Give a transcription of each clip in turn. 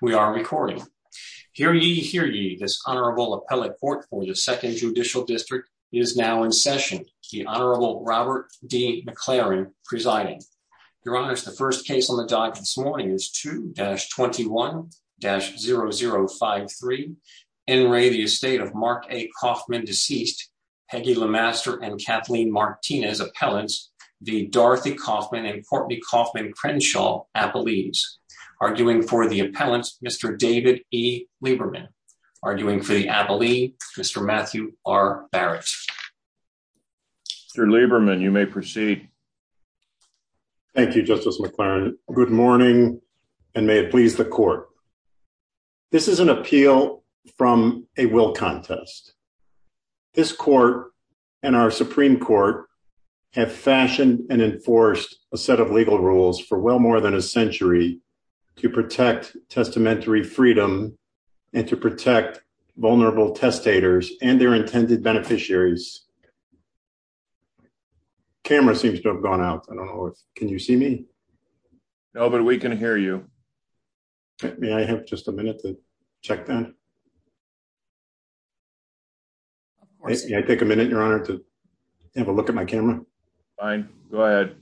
We are recording. Hear ye, hear ye, this Honorable Appellate Court for the Second Judicial District is now in session. The Honorable Robert D. McLaren presiding. Your Honors, the first case on the docket this morning is 2-21-0053, in re the estate of Mark A. Coffman, deceased, Peggy LeMaster and Kathleen Martinez, appellants, the Dorothy Coffman and Courtney Coffman Crenshaw appellees. Arguing for the appellants, Mr. David E. Lieberman. Arguing for the appellee, Mr. Matthew R. Barrett. Mr. Lieberman, you may proceed. Thank you, Justice McLaren. Good morning, and may it please the Court. This is an appeal from a will contest. This Court and our Supreme Court have fashioned and enforced a set of legal rules for well more than a century to protect testamentary freedom and to protect vulnerable testators and their intended beneficiaries. Camera seems to have gone out. Can you see me? No, but we can hear you. May I have just a minute to check that? May I take a minute, Your Honor, to have a look at my camera? Fine. Go ahead.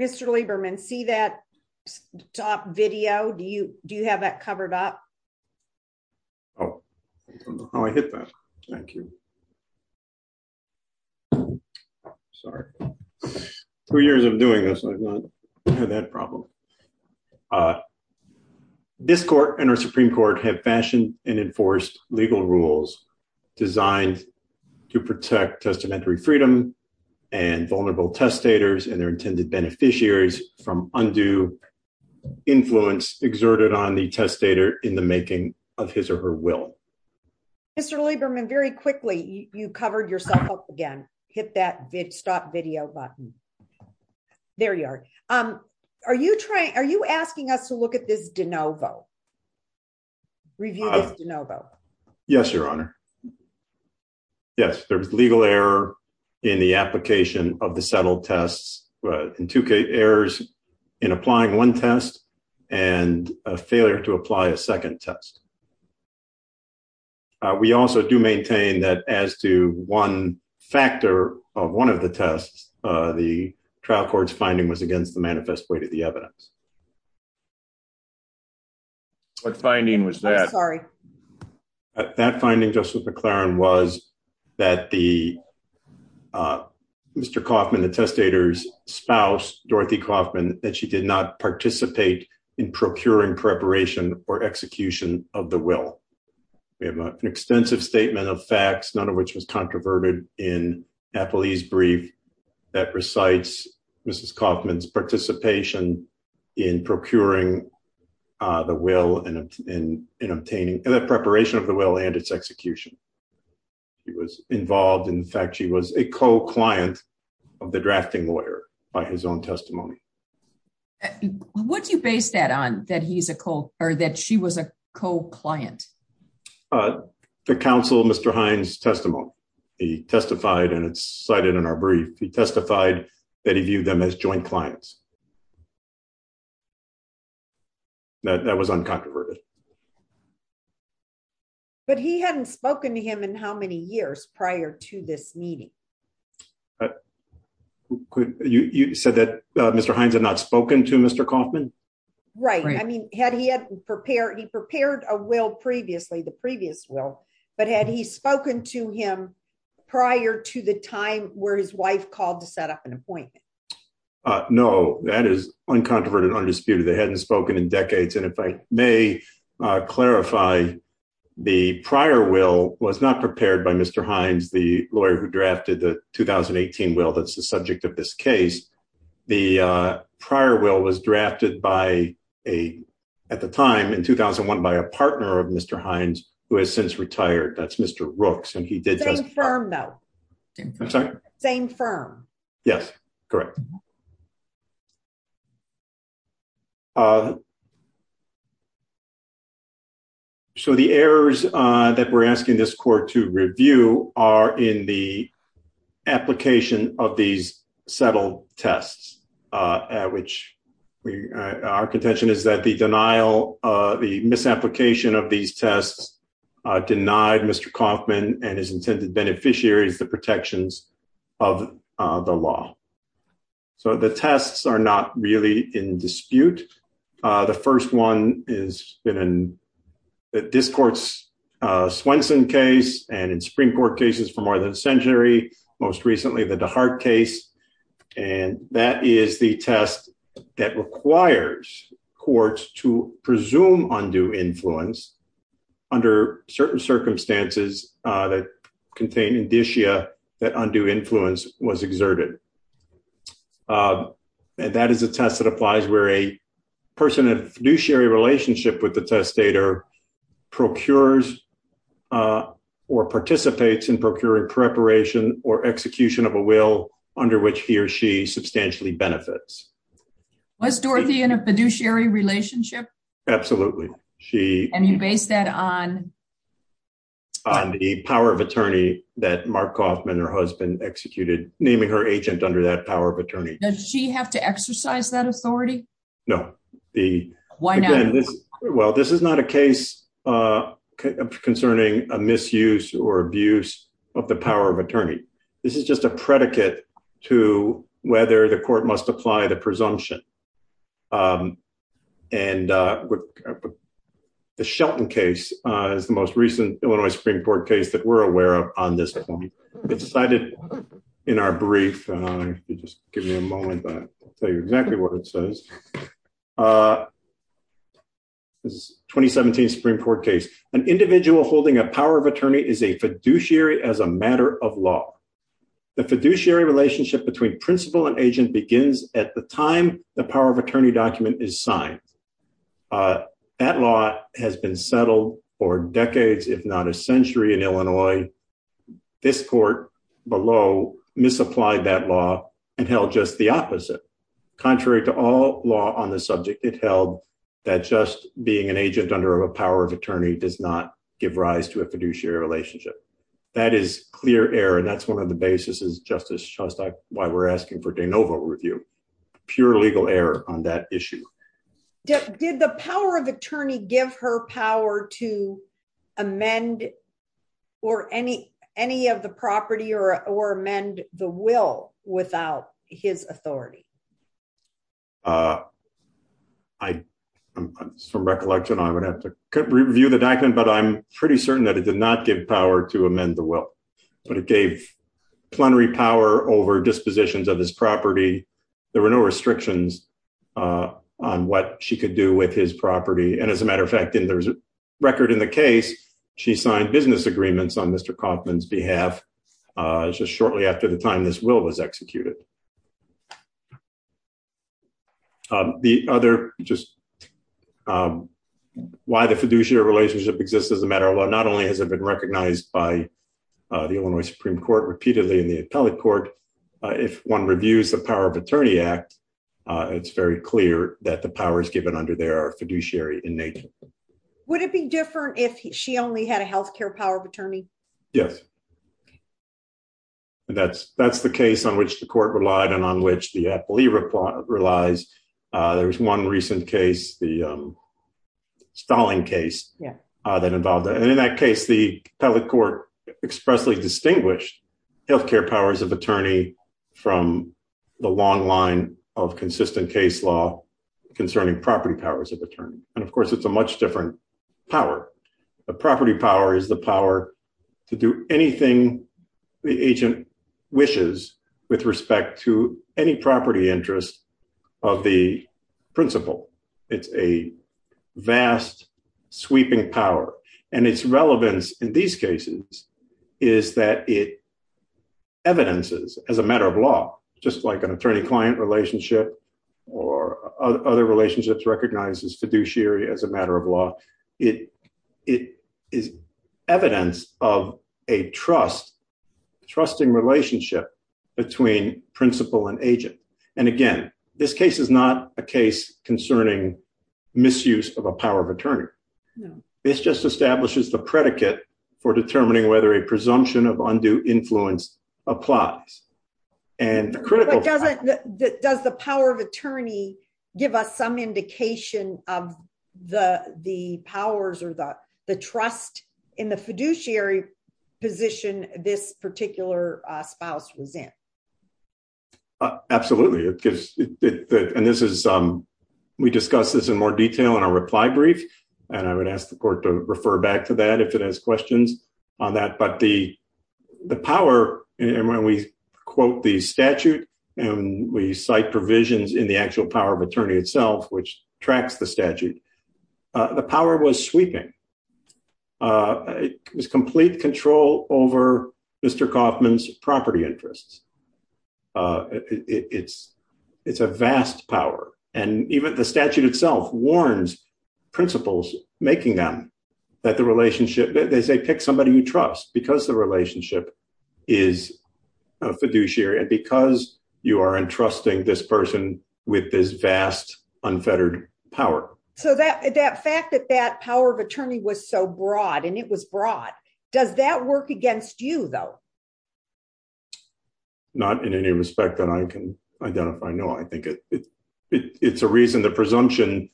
Mr. Lieberman, see that top video? Do you have that covered up? Oh, I hit that. Thank you. Sorry. Two years of doing this, I've not had that problem. This Court and our Supreme Court have fashioned and enforced legal rules designed to protect testamentary freedom and vulnerable testators and their intended beneficiaries from undue influence exerted on the testator in the making of his or her will. Mr. Lieberman, very quickly, you covered yourself up again. Hit that stop video button. There you are. Are you asking us to look at this de novo? Review this de novo? Yes, Your Honor. Yes, there's legal error in the application of the settled tests and two errors in applying one test and a failure to apply a second test. We also do maintain that as to one factor of one of the tests, the trial court's finding was against the manifest way to the evidence. What finding was that? That finding, Justice McClaren, was that the Mr. Kaufman, the testator's spouse, Dorothy Kaufman, that she did not participate in procuring preparation or execution of the will. We have an extensive statement of facts, none of which was controverted in Napoli's brief that recites Mrs. Kaufman's participation in procuring the will and obtaining the preparation of the will and its execution. She was involved in the fact she was a co-client of the drafting lawyer by his own testimony. What do you base that on, that he's a co- or that she was a co-client? The counsel, Mr. Hines' testimony. He testified and it's cited in our brief. He testified that he viewed them as joint clients. That was uncontroverted. But he hadn't spoken to him in how many years prior to this meeting? You said that Mr. Hines had not spoken to Mr. Kaufman? Right. I mean, he prepared a will previously, the previous will, but had he spoken to him prior to the time where his wife called to set up an appointment? No, that is uncontroverted, undisputed. They hadn't spoken in decades. And if I may clarify, the prior will was not prepared by Mr. Hines, the lawyer who drafted the 2018 will that's the subject of this case. The prior will was drafted by a, at the time in 2001, by a partner of Mr. Hines, who has since retired. That's Mr. Rooks. And he did testify. Same firm, though. I'm sorry? Same firm. Yes, correct. So the errors that we're asking this court to review are in the application of these settled tests, which our contention is that the denial of the misapplication of these tests denied Mr. So the tests are not really in dispute. The first one is in this court's Swenson case and in Supreme Court cases for more than a century, most recently the DeHart case. And that is the test that requires courts to presume undue influence under certain circumstances that contain indicia that undue influence was exerted. And that is a test that applies where a person in a fiduciary relationship with the testator procures or participates in procuring preparation or execution of a will under which he or she substantially benefits. Was Dorothy in a fiduciary relationship? Absolutely. And you base that on? On the power of attorney that Mark Kaufman, her husband, executed, naming her agent under that power of attorney. Does she have to exercise that authority? No. Why not? Well, this is not a case concerning a misuse or abuse of the power of attorney. This is just a predicate to whether the court must apply the presumption. And the Shelton case is the most recent Illinois Supreme Court case that we're aware of on this one. It's cited in our brief. Just give me a moment. I'll tell you exactly what it says. This is 2017 Supreme Court case. An individual holding a power of attorney is a fiduciary as a matter of law. The fiduciary relationship between principal and agent begins at the time the power of attorney document is signed. That law has been settled for decades, if not a century, in Illinois. This court below misapplied that law and held just the opposite. Contrary to all law on the subject, it held that just being an agent under a power of attorney does not give rise to a fiduciary relationship. That is clear error. And that's one of the basis of Justice Shostak, why we're asking for de novo review. Pure legal error on that issue. Did the power of attorney give her power to amend any of the property or amend the will without his authority? From recollection, I would have to review the document, but I'm pretty certain that it did not give power to amend the will. But it gave plenary power over dispositions of this property. There were no restrictions on what she could do with his property. And as a matter of fact, in the record in the case, she signed business agreements on Mr. Kaufman's behalf. Just shortly after the time this will was executed. The other just why the fiduciary relationship exists as a matter of law, not only has it been recognized by the Illinois Supreme Court repeatedly in the appellate court. But if one reviews the power of attorney act, it's very clear that the powers given under there are fiduciary in nature. Would it be different if she only had a health care power of attorney? Yes. And that's that's the case on which the court relied and on which the appellee relies. There was one recent case, the Stalin case that involved that. And in that case, the appellate court expressly distinguished health care powers of attorney from the long line of consistent case law concerning property powers of attorney. And of course, it's a much different power. The property power is the power to do anything the agent wishes with respect to any property interest of the principal. It's a vast sweeping power. And its relevance in these cases is that it evidences as a matter of law, just like an attorney client relationship or other relationships recognizes fiduciary as a matter of law. It it is evidence of a trust trusting relationship between principal and agent. And again, this case is not a case concerning misuse of a power of attorney. This just establishes the predicate for determining whether a presumption of undue influence applies. And does the power of attorney give us some indication of the the powers or the the trust in the fiduciary position this particular spouse was in? Absolutely. And this is we discuss this in more detail in our reply brief. And I would ask the court to refer back to that if it has questions on that. But the the power and when we quote the statute and we cite provisions in the actual power of attorney itself, which tracks the statute, the power was sweeping. It was complete control over Mr. Kaufman's property interests. It's it's a vast power. And even the statute itself warns principals, making them that the relationship they say pick somebody you trust because the relationship is fiduciary. And because you are entrusting this person with this vast, unfettered power. So that that fact that that power of attorney was so broad and it was broad, does that work against you, though? Not in any respect that I can identify. No, I think it's a reason the presumption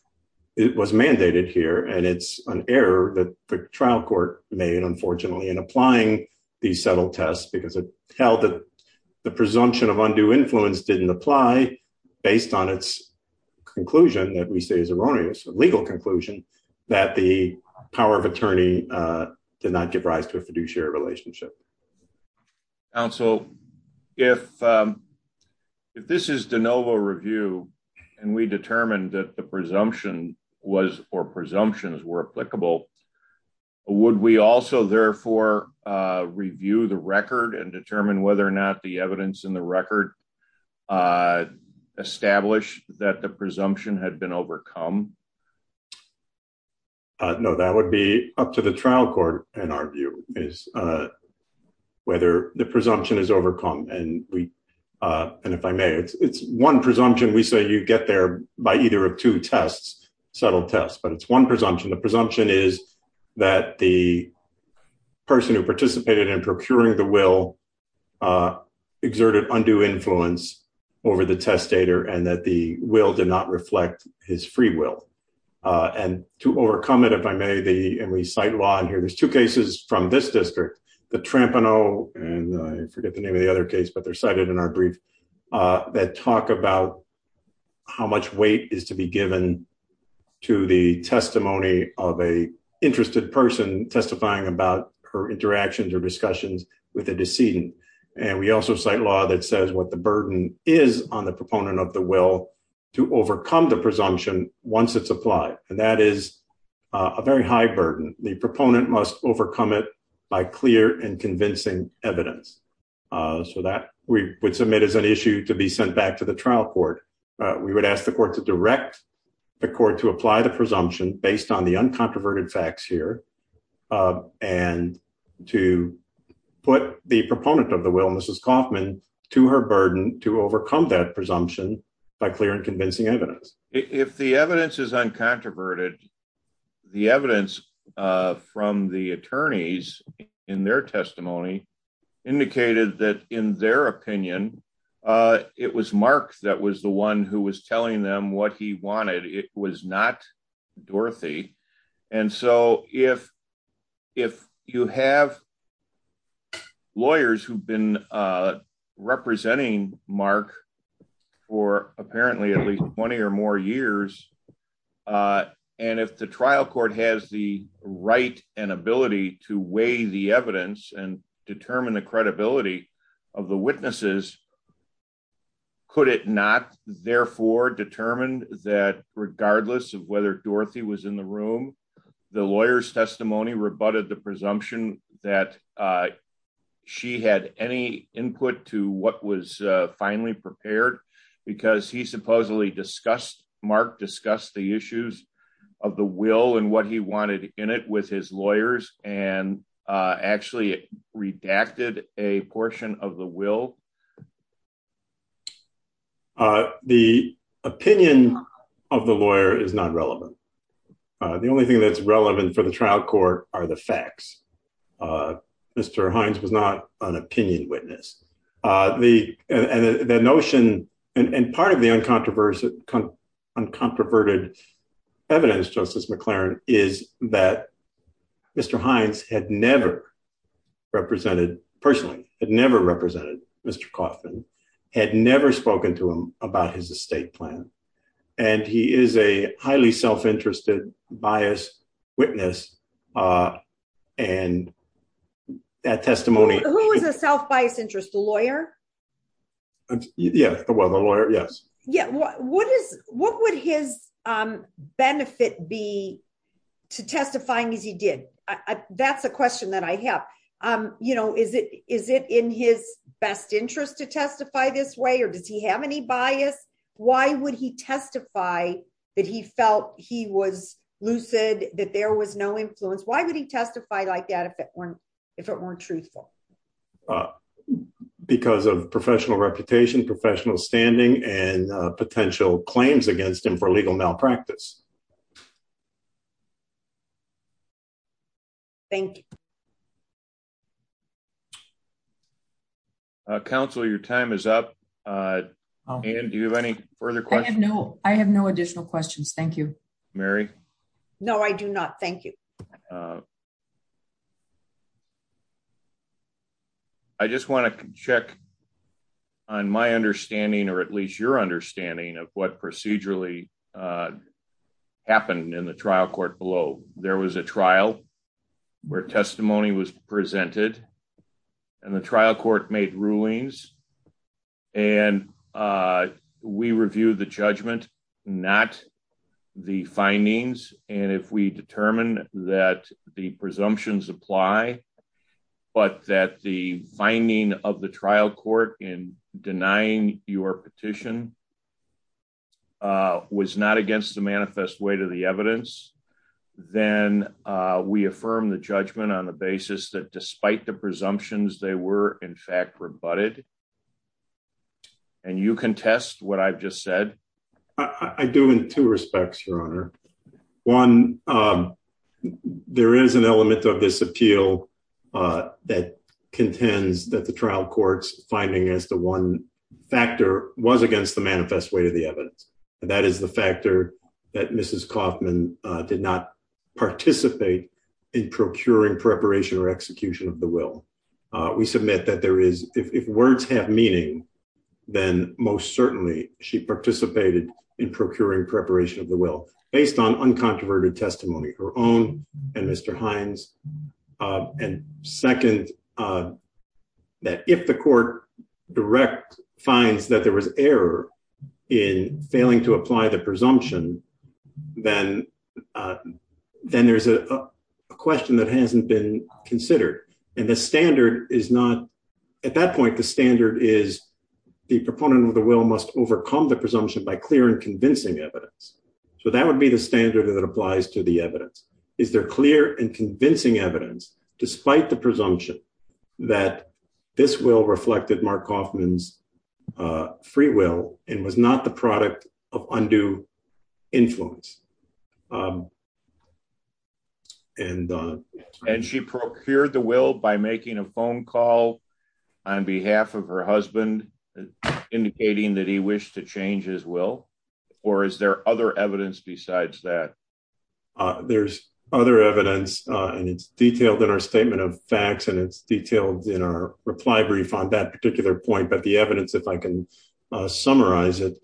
was mandated here. And it's an error that the trial court made, unfortunately, in applying these subtle tests because it held that the presumption of undue influence didn't apply based on its conclusion that we say is erroneous, a legal conclusion that the power of attorney did not give rise to a fiduciary relationship. Also, if this is de novo review and we determined that the presumption was or presumptions were applicable, would we also therefore review the record and determine whether or not the evidence in the record established that the presumption had been overcome? No, that would be up to the trial court and argue is whether the presumption is overcome. And we and if I may, it's one presumption we say you get there by either of two tests, subtle tests, but it's one presumption. The presumption is that the person who participated in procuring the will exerted undue influence over the testator and that the will did not reflect his free will. And to overcome it, if I may, and we cite law in here, there's two cases from this district, the Trampano and I forget the name of the other case, but they're cited in our brief that talk about how much weight is to be given to the testimony of a interested person testifying about her interactions or discussions with a decedent. And we also cite law that says what the burden is on the proponent of the will to overcome the presumption once it's applied. And that is a very high burden. The proponent must overcome it by clear and convincing evidence so that we would submit as an issue to be sent back to the trial court. We would ask the court to direct the court to apply the presumption based on the uncontroverted facts here, and to put the proponent of the will and this is Kaufman to her burden to overcome that presumption by clear and convincing evidence. If the evidence is uncontroverted, the evidence from the attorneys in their testimony indicated that in their opinion, it was Mark that was the one who was telling them what he wanted it was not Dorothy. And so, if, if you have lawyers who've been representing Mark for apparently at least 20 or more years. And if the trial court has the right and ability to weigh the evidence and determine the credibility of the witnesses. Could it not therefore determined that regardless of whether Dorothy was in the room. The lawyers testimony rebutted the presumption that she had any input to what was finally prepared, because he supposedly discussed Mark discuss the issues of the will and what he wanted in it with his lawyers and actually redacted a portion of the will. The opinion of the lawyer is not relevant. The only thing that's relevant for the trial court are the facts. Mr. Hines was not an opinion witness, the notion, and part of the uncontroversial uncontroverted evidence justice McLaren is that Mr. bias witness. And that testimony, who is a self bias interest lawyer. Yeah, well the lawyer, yes. Yeah. What is, what would his benefit be to testifying as he did. That's a question that I have, um, you know, is it, is it in his best interest to testify this way or does he have any bias. Why would he testify that he felt he was lucid, that there was no influence why would he testify like that if it weren't, if it weren't truthful. Because of professional reputation professional standing and potential claims against him for legal malpractice. Thank you. Council your time is up. Do you have any further questions. No, I have no additional questions. Thank you, Mary. No, I do not. Thank you. I just want to check on my understanding or at least your understanding of what procedurally happened in the trial court below, there was a trial where testimony was presented. And the trial court made rulings. And we review the judgment, not the findings, and if we determine that the presumptions apply, but that the finding of the trial court in denying your petition was not against the manifest way to the evidence. Then we affirm the judgment on the basis that despite the presumptions they were in fact rebutted. And you can test what I've just said, I do in two respects, Your Honor. One, there is an element of this appeal that contends that the trial courts finding as the one factor was against the manifest way to the evidence. That is the factor that Mrs Kaufman did not participate in procuring preparation or execution of the will. We submit that there is if words have meaning. Then, most certainly, she participated in procuring preparation of the will, based on uncontroverted testimony, her own, and Mr Hines, and second, that if the court direct finds that there was error in failing to apply the presumption. Then there's a question that hasn't been considered, and the standard is not at that point the standard is the proponent of the will must overcome the presumption by clear and convincing evidence. So that would be the standard that applies to the evidence. Is there clear and convincing evidence, despite the presumption that this will reflected Mark Kaufman's free will, and was not the product of undue influence. And, and she procured the will by making a phone call on behalf of her husband, indicating that he wished to change his will, or is there other evidence besides that. There's other evidence, and it's detailed in our statement of facts and it's detailed in our reply brief on that particular point but the evidence if I can summarize it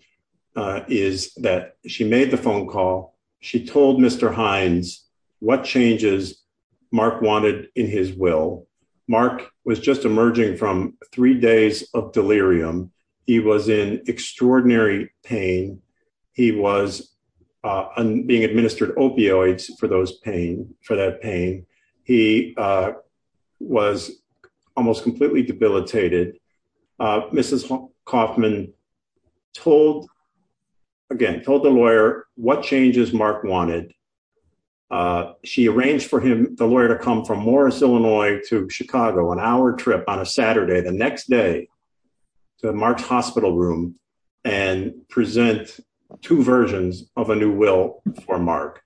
is that she made the phone call. She told Mr Hines, what changes. Mark wanted in his will. Mark was just emerging from three days of delirium. He was in extraordinary pain. He was being administered opioids for those pain for that pain. He was almost completely debilitated. Mrs Kaufman told again told the lawyer, what changes Mark wanted. She arranged for him, the lawyer to come from Morris, Illinois to Chicago an hour trip on a Saturday, the next day to March hospital room and present two versions of a new will for Mark.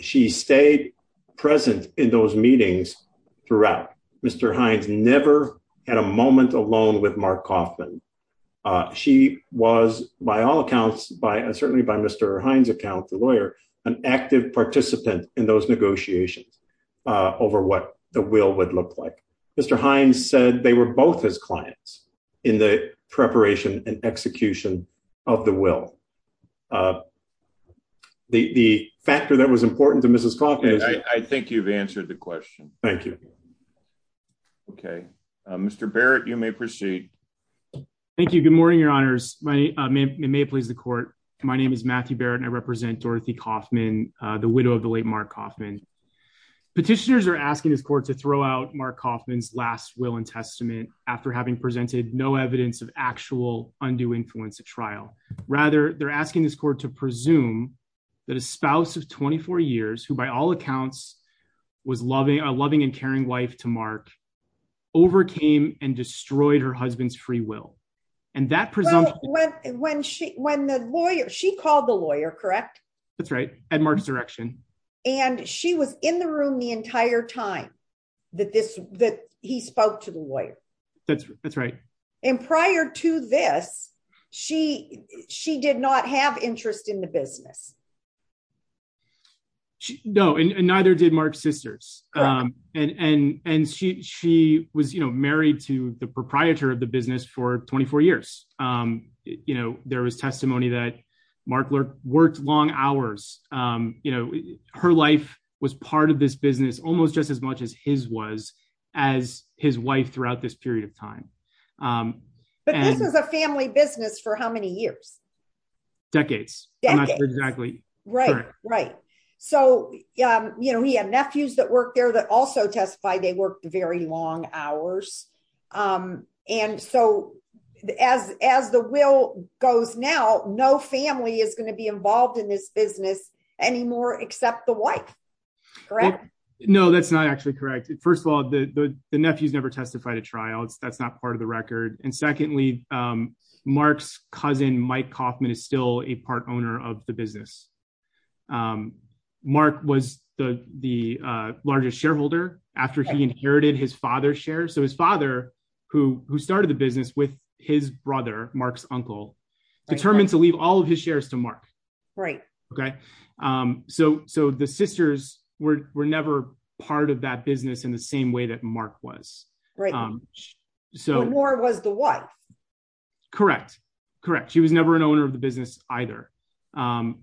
She stayed present in those meetings throughout Mr Hines never had a moment alone with Mark Kaufman. She was by all accounts by and certainly by Mr Hines account the lawyer, an active participant in those negotiations over what the will would look like Mr Hines said they were both his clients in the preparation and execution of the will. The factor that was important to Mrs Kaufman, I think you've answered the question. Thank you. Okay, Mr Barrett, you may proceed. Thank you. Good morning, Your Honors, my name may please the court. My name is Matthew Barrett and I represent Dorothy Kaufman, the widow of the late Mark Kaufman petitioners are asking this court to throw out Mark Kaufman's last will and testament, after having presented no evidence of actual undue influence of trial. Rather, they're asking this court to presume that a spouse of 24 years who by all accounts was loving a loving and caring wife to Mark overcame and destroyed her husband's free will. And that presumptive when she when the lawyer she called the lawyer correct. That's right, and Mark's direction, and she was in the room the entire time that this that he spoke to the lawyer. That's, that's right. And prior to this, she, she did not have interest in the business. No, and neither did Mark sisters and and and she she was, you know, married to the proprietor of the business for 24 years. You know, there was testimony that markler worked long hours, you know, her life was part of this business, almost just as much as his was as his wife throughout this period of time. But this is a family business for how many years. Decades. Exactly. Right, right. So, you know, he had nephews that work there that also testified they worked very long hours. And so, as, as the will goes now no family is going to be involved in this business anymore, except the wife. No, that's not actually correct. First of all, the nephews never testified at trials, that's not part of the record. And secondly, Mark's cousin Mike Kaufman is still a part owner of the business. Mark was the, the largest shareholder after he inherited his father share so his father, who, who started the business with his brother Mark's uncle determined to leave all of his shares to Mark. Right. Okay. So, so the sisters were never part of that business in the same way that Mark was right. So more was the one. Correct. Correct. She was never an owner of the business, either. And,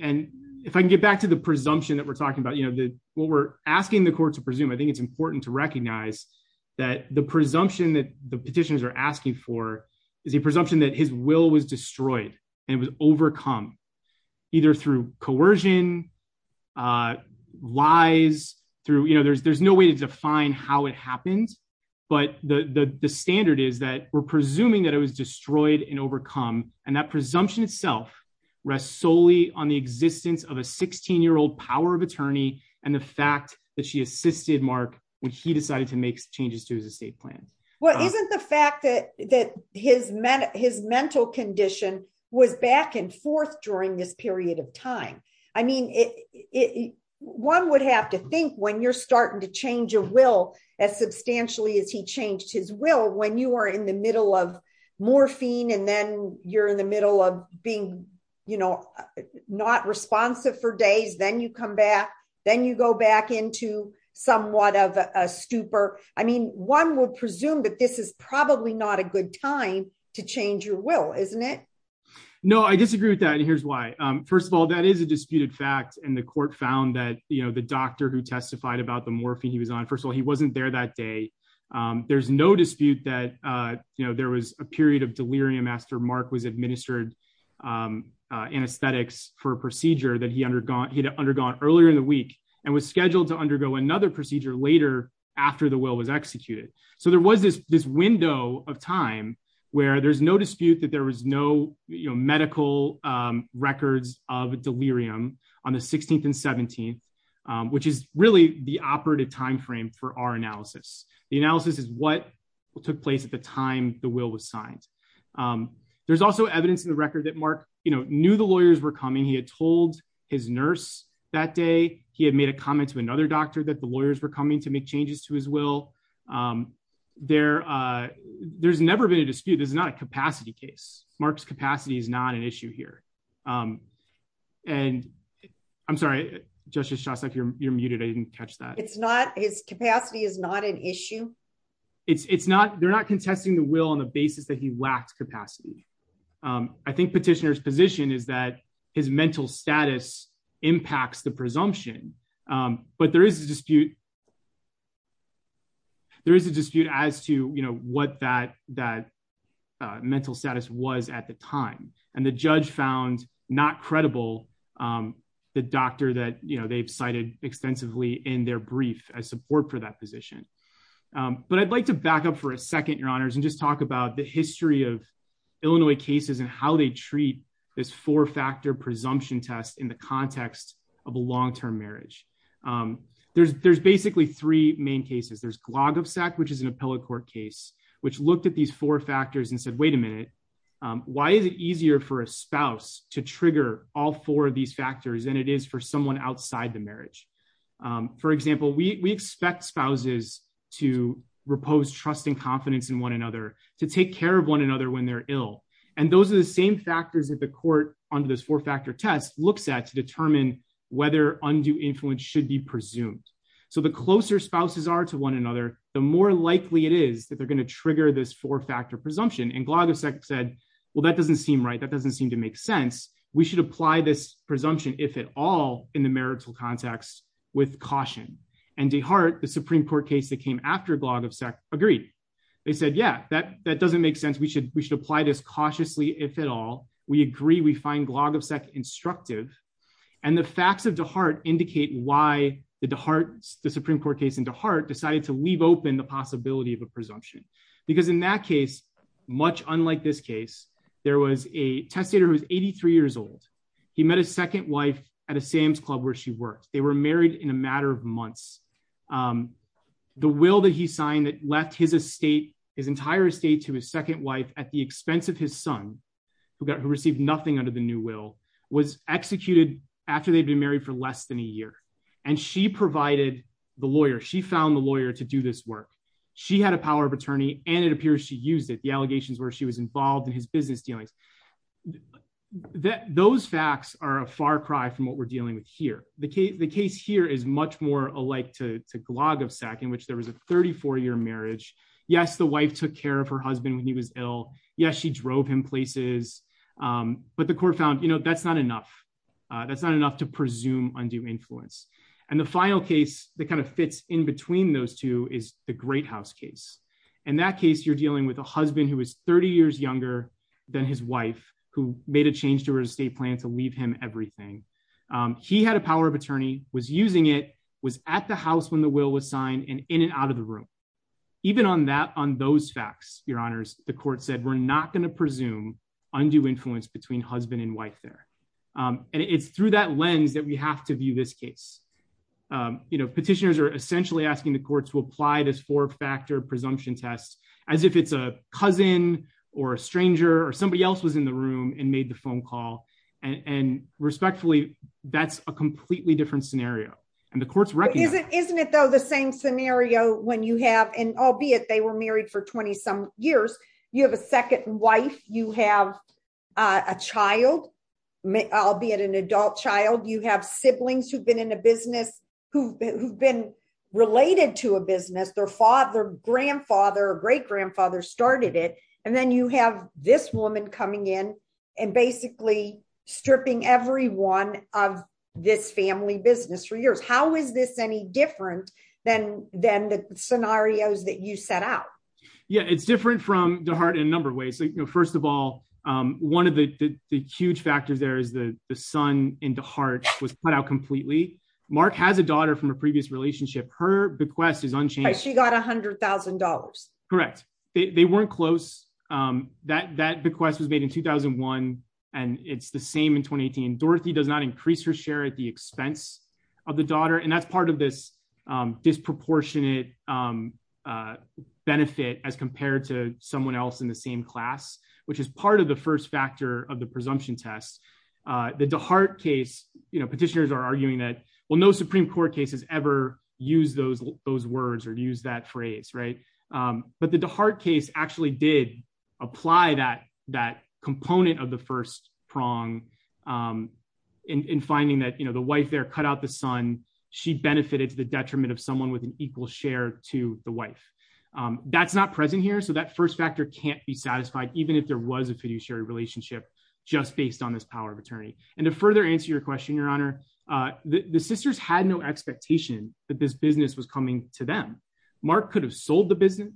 and if I can get back to the presumption that we're talking about you know that what we're asking the court to presume I think it's important to recognize that the presumption that the petitions are asking for is a presumption that his will was destroyed, and it was overcome, either through coercion. Lies through you know there's there's no way to define how it happens, but the standard is that we're presuming that it was destroyed and overcome, and that presumption itself rests solely on the existence of a 16 year old power of attorney, and the fact that she assisted Mark, when he decided to make changes to his estate plan. Well, isn't the fact that that his men, his mental condition was back and forth during this period of time. I mean, it. One would have to think when you're starting to change your will as substantially as he changed his will when you are in the middle of morphine and then you're in the middle of being, you know, not responsive for days then you come back, then you go back into somewhat of a stupor. I mean, one would presume that this is probably not a good time to change your will, isn't it. No, I disagree with that and here's why. First of all, that is a disputed fact and the court found that you know the doctor who testified about the morphing he was on first of all he wasn't there that day. There's no dispute that, you know, there was a period of delirium after Mark was administered anesthetics for procedure that he undergone he'd undergone earlier in the week, and was scheduled to undergo another procedure later after the will was executed. So there was this this window of time where there's no dispute that there was no, you know, medical records of delirium on the 16th and 17th, which is really the operative timeframe for our analysis, the analysis is what took place at the time, the will was signed. There's also evidence in the record that Mark, you know, knew the lawyers were coming he had told his nurse, that day, he had made a comment to another doctor that the lawyers were coming to make changes to as well. There, there's never been a dispute is not a capacity case, Mark's capacity is not an issue here. And I'm sorry, just just shots like you're muted I didn't catch that it's not his capacity is not an issue. It's not they're not contesting the will on the basis that he lacked capacity. I think petitioners position is that his mental status impacts the presumption, but there is a dispute. There is a dispute as to you know what that that mental status was at the time, and the judge found not credible. The doctor that you know they've cited extensively in their brief as support for that position. But I'd like to back up for a second, your honors and just talk about the history of Illinois cases and how they treat this four factor presumption test in the context of a long term marriage. There's, there's basically three main cases there's clog of sack which is an appellate court case, which looked at these four factors and said wait a minute. Why is it easier for a spouse to trigger all four of these factors and it is for someone outside the marriage. For example, we expect spouses to repose trust and confidence in one another to take care of one another when they're ill. And those are the same factors that the court under this four factor test looks at to determine whether undue influence should be presumed. So the closer spouses are to one another, the more likely it is that they're going to trigger this four factor presumption and clog of sex said, Well, that doesn't seem right that doesn't seem to make sense, we should apply this presumption, if at all, in the marital context with caution and the heart the Supreme Court case that came after blog of SEC agreed. They said yeah that that doesn't make sense we should we should apply this cautiously if at all, we agree we find blog of SEC instructive. And the facts of the heart indicate why the heart, the Supreme Court case into heart decided to leave open the possibility of a presumption, because in that case, much unlike this case, there was a testator was 83 years old. He met his second wife at a Sam's Club where she worked, they were married in a matter of months. The will that he signed that left his estate, his entire estate to his second wife at the expense of his son, who got who received nothing under the new will was executed after they've been married for less than a year, and she provided the lawyer she found the lawyer to do this work. She had a power of attorney, and it appears to use it the allegations where she was involved in his business dealings. That those facts are a far cry from what we're dealing with here, the case the case here is much more alike to blog of SEC in which there was a 34 year marriage. Yes, the wife took care of her husband when he was ill. Yes, she drove him places. But the court found you know that's not enough. That's not enough to presume undue influence. And the final case that kind of fits in between those two is the great house case, and that case you're dealing with a husband who was 30 years younger than his wife, who made a change to her estate plan to leave him everything. He had a power of attorney was using it was at the house when the will was signed and in and out of the room. Even on that on those facts, your honors, the court said we're not going to presume undue influence between husband and wife there. And it's through that lens that we have to view this case, you know petitioners are essentially asking the courts will apply this four factor presumption test, as if it's a cousin or a stranger or somebody else was in the room and made the phone call and respectfully, that's a completely different scenario, and the courts record isn't isn't it though the same scenario when you have an albeit they were married for 20 some years, you have a second wife, you have a child. I'll be at an adult child you have siblings who've been in a business, who have been related to a business their father grandfather or great grandfather started it, and then you have this woman coming in and basically stripping everyone of this family business for years How is this any different than, then the scenarios that you set out. Yeah, it's different from the heart in a number of ways so you know first of all, one of the huge factors there is the son into heart was put out completely mark has a daughter from a previous relationship her bequest is unchanged she got $100,000. Correct. They weren't close that that request was made in 2001, and it's the same in 2018 Dorothy does not increase her share at the expense of the daughter and that's part of this disproportionate benefit as compared to someone else in the same class, which is part of the first factor of the presumption test the heart case, you know petitioners are arguing that will know Supreme Court cases ever use those, those words or use that phrase right. But the heart case actually did apply that that component of the first prong in finding that you know the wife there cut out the sun. She benefited to the detriment of someone with an equal share to the wife. That's not present here so that first factor can't be satisfied, even if there was a fiduciary relationship, just based on this power of attorney, and to further answer your question your honor the sisters had no expectation that this business was coming to them. Mark could have sold the business.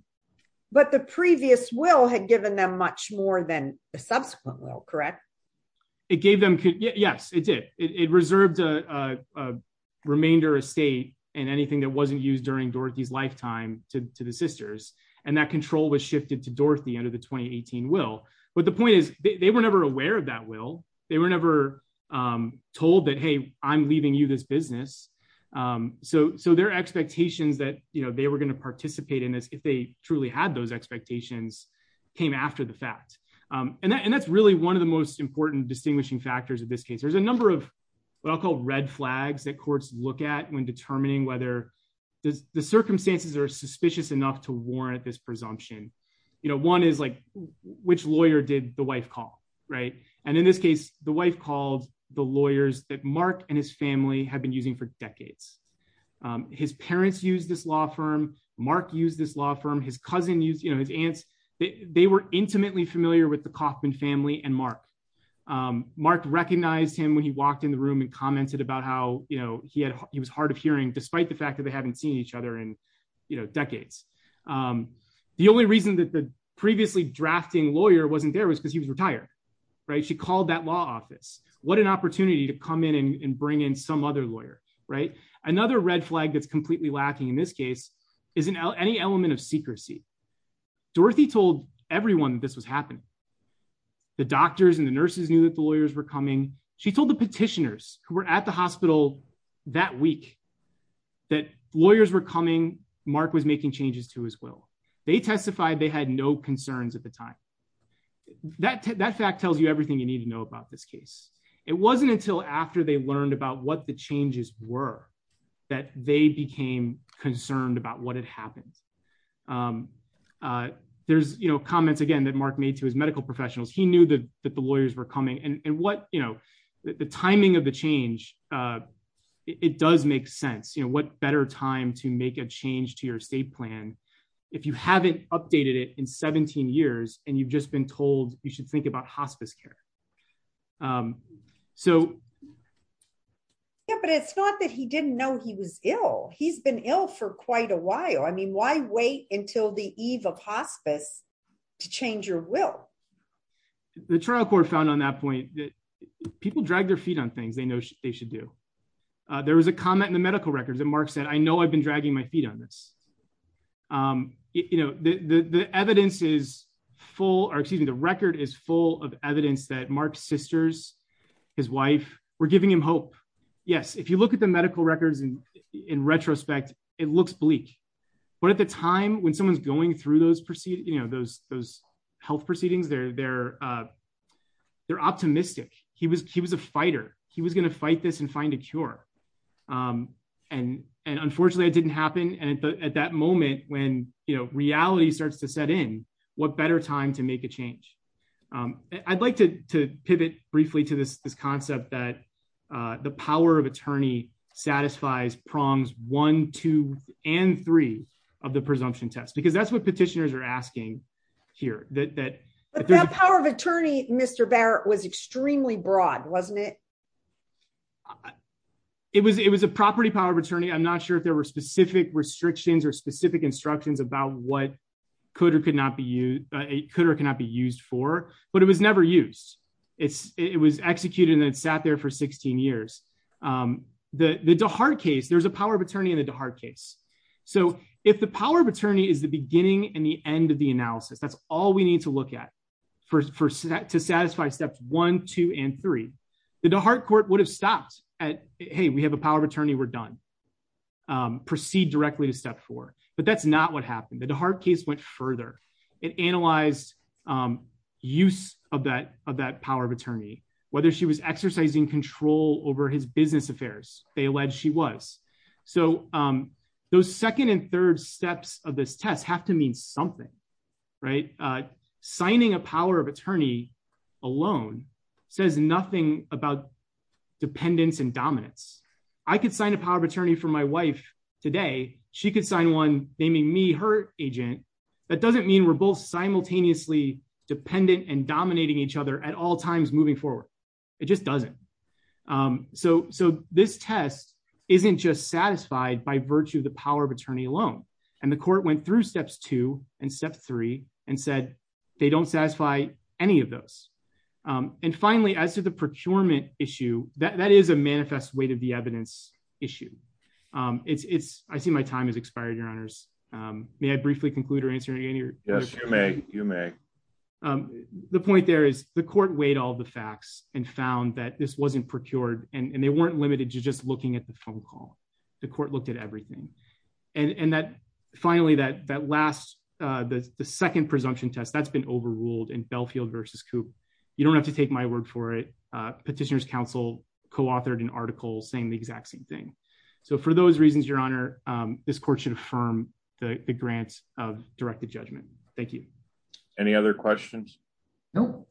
But the previous will had given them much more than the subsequent will correct. It gave them. Yes, it did. It reserved a remainder of state, and anything that wasn't used during Dorothy's lifetime to the sisters, and that control was shifted to Dorothy under the 2018 will, but the point is, they were never aware of that will they were never told that hey, I'm leaving you this business. So, so their expectations that you know they were going to participate in this if they truly had those expectations came after the fact. And that's really one of the most important distinguishing factors of this case there's a number of what I'll call red flags that courts, look at when determining whether the circumstances are suspicious enough to warrant this presumption. You know one is like, which lawyer did the wife call. Right. And in this case, the wife called the lawyers that Mark and his family have been using for decades. His parents use this law firm, Mark use this law firm his cousin use you know his aunts. They were intimately familiar with the coffin family and Mark. Mark recognized him when he walked in the room and commented about how, you know, he had, he was hard of hearing despite the fact that they haven't seen each other and, you know, decades. The only reason that the previously drafting lawyer wasn't there was because he was retired. Right, she called that law office, what an opportunity to come in and bring in some other lawyer, right, another red flag that's completely lacking in this case, isn't any element of secrecy. Dorothy told everyone this was happening. The doctors and the nurses knew that the lawyers were coming. She told the petitioners who were at the hospital that week that lawyers were coming, Mark was making changes to his will. They testified they had no concerns at the time that that fact tells you everything you need to know about this case. It wasn't until after they learned about what the changes were that they became concerned about what had happened. There's, you know, comments again that Mark made to his medical professionals, he knew that the lawyers were coming and what, you know, the timing of the change. It does make sense you know what better time to make a change to your state plan. If you haven't updated it in 17 years, and you've just been told, you should think about hospice care. So, but it's not that he didn't know he was ill, he's been ill for quite a while I mean why wait until the eve of hospice to change your will. The trial court found on that point that people drag their feet on things they know they should do. There was a comment in the medical records and Mark said I know I've been dragging my feet on this. You know, the evidence is full or excuse me the record is full of evidence that Mark sisters, his wife, we're giving him hope. Yes, if you look at the medical records and in retrospect, it looks bleak, but at the time when someone's going through those proceed, you know those those health proceedings there there. They're optimistic, he was he was a fighter, he was going to fight this and find a cure. And, and unfortunately it didn't happen and at that moment when you know reality starts to set in what better time to make a change. I'd like to pivot briefly to this this concept that the power of attorney satisfies prongs one, two, and three of the presumption test because that's what petitioners are asking here that that power of attorney, Mr Barrett was extremely broad wasn't it. It was it was a property power of attorney I'm not sure if there were specific restrictions or specific instructions about what could or could not be you could or cannot be used for, but it was never used. It's, it was executed and sat there for 16 years. The hard case there's a power of attorney in a hard case. So, if the power of attorney is the beginning and the end of the analysis that's all we need to look at for set to satisfy steps one, two, and three, the heart court would have stopped at, hey, we have a power of attorney, whether she was exercising control over his business affairs, they alleged she was. So, those second and third steps of this test have to mean something right signing a power of attorney alone says nothing about dependence and dominance. I could sign a power of attorney for my wife today, she could sign one naming me her agent. That doesn't mean we're both simultaneously dependent and dominating each other at all times moving forward. It just doesn't. So, so this test isn't just satisfied by virtue of the power of attorney alone, and the court went through steps two and step three, and said, they don't satisfy any of those. And finally, as to the procurement issue that is a manifest way to the evidence issue. It's I see my time has expired, your honors. May I briefly conclude or answering any. Yes, you may, you may. The point there is the court weighed all the facts and found that this wasn't procured and they weren't limited to just looking at the phone call the court looked at everything. And that finally that that last. The second presumption test that's been overruled and Belfield versus coop. You don't have to take my word for it. Petitioners Council co authored an article saying the exact same thing. So for those reasons, Your Honor. This court should affirm the grants of directed judgment. Thank you. Any other questions. No.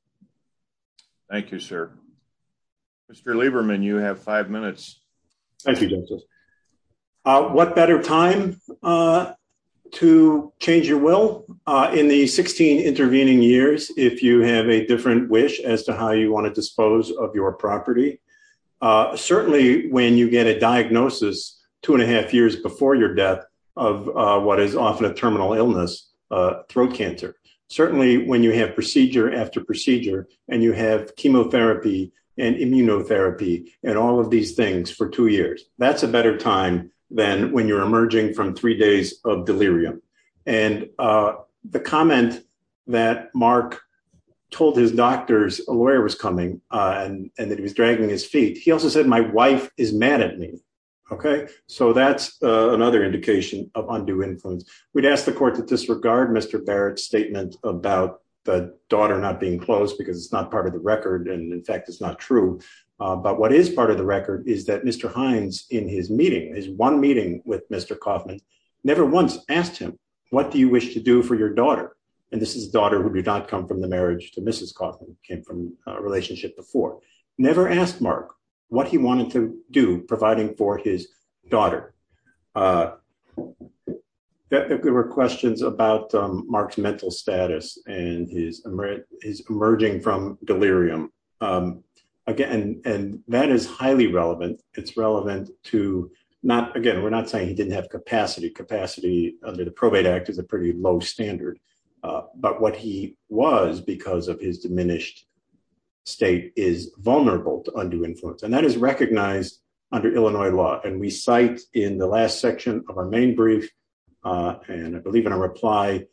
Thank you, sir. Mr Lieberman you have five minutes. Thank you. What better time to change your will in the 16 intervening years, if you have a different wish as to how you want to dispose of your property. Certainly, when you get a diagnosis, two and a half years before your death of what is often a terminal illness throat cancer. Certainly, when you have procedure after procedure, and you have chemotherapy and immunotherapy, and all of these things for two years, that's a better time than when you're emerging from three days of delirium. And the comment that Mark told his doctors, a lawyer was coming, and that he was dragging his feet. He also said my wife is mad at me. Okay, so that's another indication of undue influence. We'd asked the court to disregard Mr Barrett statement about the daughter not being close because it's not part of the record and in fact it's not true. But what is part of the record is that Mr Heinz in his meeting is one meeting with Mr Kaufman never once asked him, what do you wish to do for your daughter. And this is a daughter who did not come from the marriage to Mrs Kaufman, came from a relationship before. Never asked Mark what he wanted to do, providing for his daughter. There were questions about Mark's mental status and his emerging from delirium. Again, and that is highly relevant. It's relevant to not again we're not saying he didn't have capacity. Capacity under the probate act is a pretty low standard. But what he was because of his diminished state is vulnerable to undue influence and that is recognized under Illinois law and we cite in the last section of our main brief. And I believe in a reply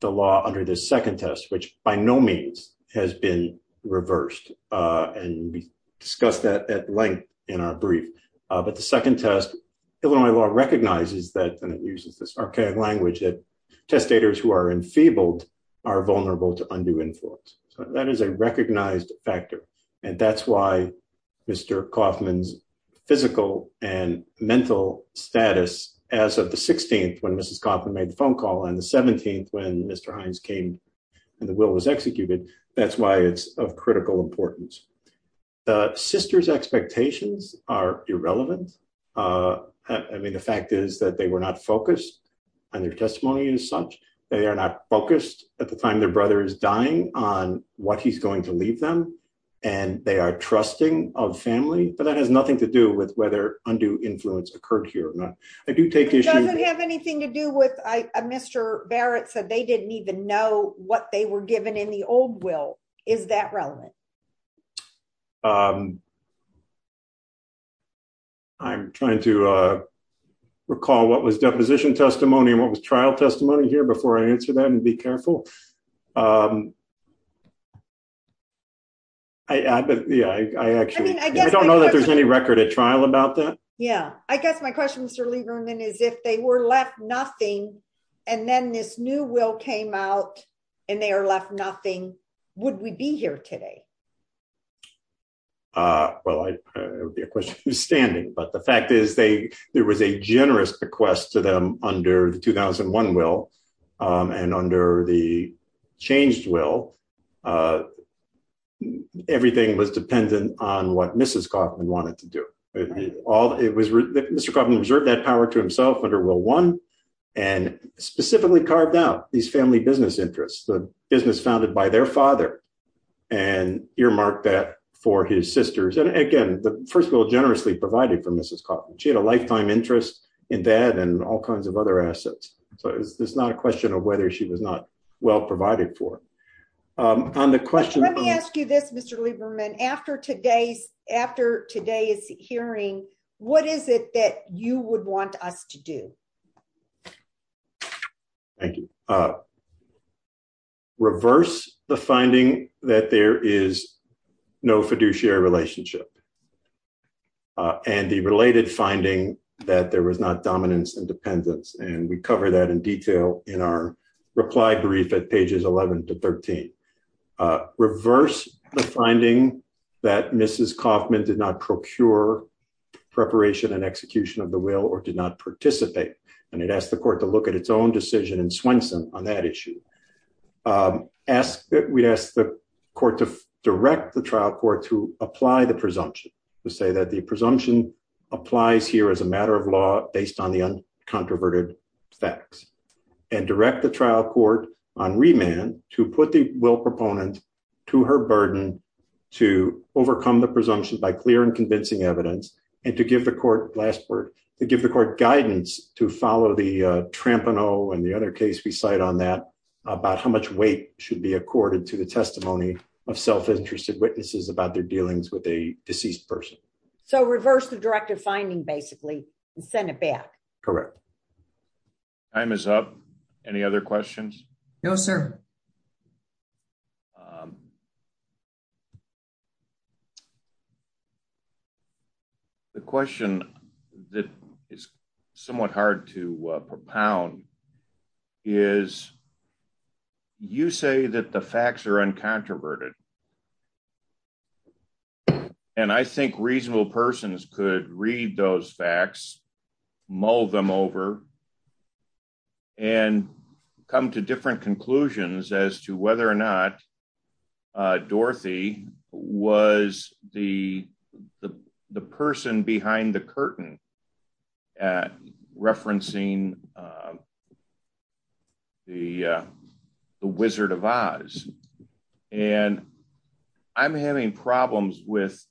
the law under the second test, which by no means has been reversed and we discussed that at length in our brief. But the second test Illinois law recognizes that and it uses this archaic language that testators who are enfeebled are vulnerable to undue influence. So that is a recognized factor. And that's why Mr Kaufman's physical and mental status as of the 16th when Mrs Kaufman made the phone call and the 17th when Mr. Hines came and the will was executed. That's why it's of critical importance. The sister's expectations are irrelevant. I mean, the fact is that they were not focused on their testimony as such. They are not focused at the time their brother is dying on what he's going to leave them, and they are trusting of family, but that has nothing to do with whether undue influence occurred here. It doesn't have anything to do with Mr. Barrett said they didn't even know what they were given in the old will. Is that relevant? I'm trying to recall what was deposition testimony and what was trial testimony here before I answer that and be careful. I actually don't know that there's any record at trial about that. Yeah, I guess my question Mr Lieberman is if they were left nothing. And then this new will came out, and they are left nothing. Would we be here today. Well, I would be a question standing, but the fact is they, there was a generous request to them under the 2001 will, and under the changed will. Everything was dependent on what Mrs. Kaufman wanted to do. Mr. Kaufman reserved that power to himself under will one, and specifically carved out these family business interests, the business founded by their father, and earmarked that for his sisters. And again, the first will generously provided for Mrs. Kaufman. She had a lifetime interest in that and all kinds of other assets. So it's not a question of whether she was not well provided for. On the question, let me ask you this Mr Lieberman after today's after today's hearing, what is it that you would want us to do. Thank you. Reverse the finding that there is no fiduciary relationship. And the related finding that there was not dominance independence and we cover that in detail in our reply brief at pages 11 to 13. Reverse the finding that Mrs. Kaufman did not procure preparation and execution of the will or did not participate, and it asked the court to look at its own decision and Swenson on that issue. Ask that we ask the court to direct the trial court to apply the presumption to say that the presumption applies here as a matter of law, based on the uncontroverted facts. And direct the trial court on remand to put the will proponent to her burden to overcome the presumption by clear and convincing evidence, and to give the court last word to give the court guidance to follow the tramp and oh and the other case we cite on that about how much weight should be accorded to the testimony of self interested witnesses about their dealings with a deceased person. So reverse the directive finding basically, and send it back. Correct. That brings up any other questions. No, sir. The question that is somewhat hard to propound is you say that the facts are uncontroverted. And I think reasonable persons could read those facts, mull them over and come to different conclusions as to whether or not Dorothy was the, the, the person behind the curtain at referencing the Wizard of Oz. And I'm having problems with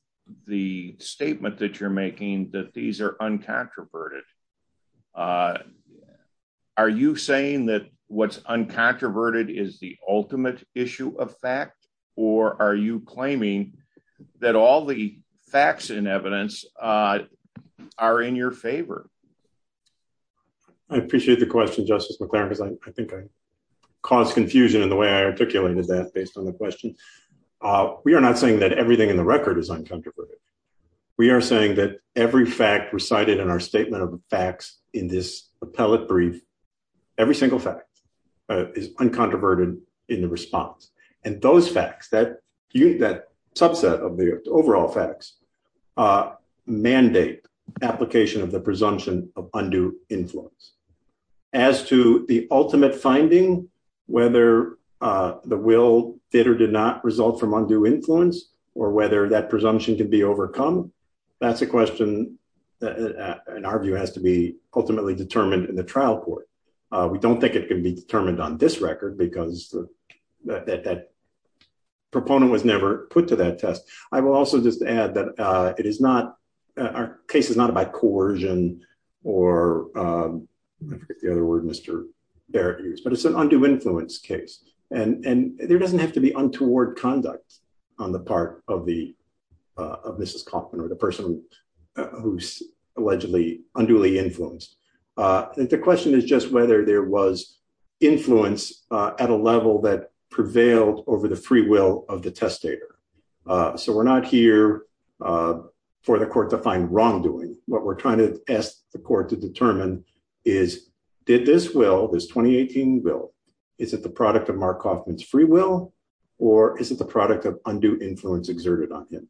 the statement that you're making that these are uncontroverted. Are you saying that what's uncontroverted is the ultimate issue of fact, or are you claiming that all the facts and evidence are in your favor. I appreciate the question Justice McLaren because I think I caused confusion in the way I articulated that based on the question. We are not saying that everything in the record is uncontroverted. We are saying that every fact recited in our statement of facts in this appellate brief. Every single fact is uncontroverted in the response. And those facts that you that subset of the overall facts mandate application of the presumption of undue influence. As to the ultimate finding, whether the will did or did not result from undue influence or whether that presumption can be overcome. That's a question that in our view has to be ultimately determined in the trial court. We don't think it can be determined on this record because that proponent was never put to that test. I will also just add that it is not our case is not about coercion or the other word Mr. But it's an undue influence case, and there doesn't have to be untoward conduct on the part of the of Mrs Kaufman or the person who's allegedly unduly influenced. The question is just whether there was influence at a level that prevailed over the free will of the testator. So we're not here for the court to find wrongdoing. What we're trying to ask the court to determine is did this will this 2018 will. Is it the product of Mark Kaufman's free will or is it the product of undue influence exerted on him?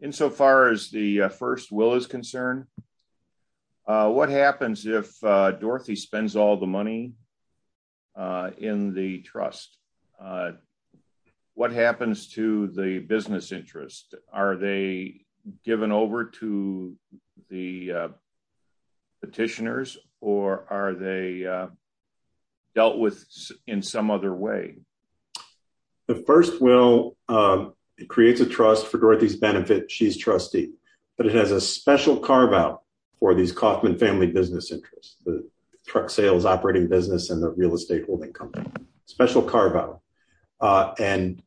In so far as the first will is concerned. What happens if Dorothy spends all the money in the trust. What happens to the business interest, are they given over to the petitioners, or are they dealt with in some other way. The first will creates a trust for Dorothy's benefit. She's trustee, but it has a special carve out for these Kaufman family business interests. The truck sales operating business and the real estate holding company special carve out. And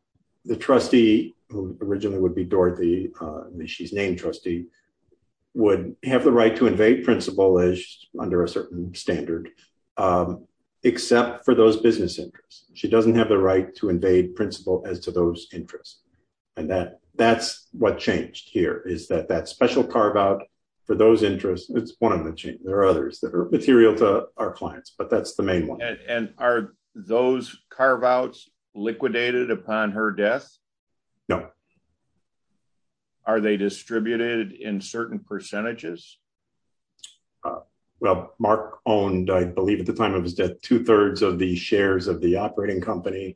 the trustee originally would be Dorothy. She's named trustee would have the right to invade principle as under a certain standard, except for those business interests. She doesn't have the right to invade principle as to those interests. And that that's what changed here is that that special carve out for those interests. It's one of the change. There are others that are material to our clients, but that's the main one. And are those carve outs liquidated upon her death? No. Are they distributed in certain percentages? Well, Mark owned, I believe at the time of his death, two thirds of the shares of the operating company,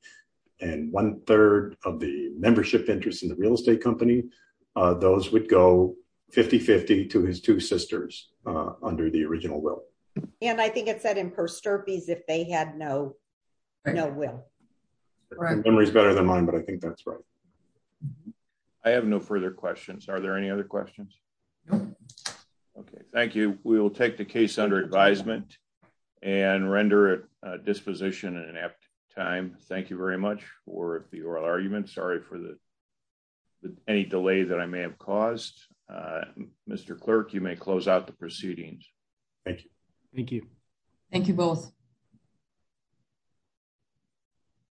and one third of the membership interest in the real estate company. Those would go 5050 to his two sisters under the original will. And I think it said in her stir fees if they had no, no will. Memories better than mine, but I think that's right. I have no further questions. Are there any other questions. Okay, thank you. We will take the case under advisement and render disposition in an apt time. Thank you very much for the oral argument. Sorry for the any delay that I may have caused. Mr. Clerk, you may close out the proceedings. Thank you. Thank you. Thank you both.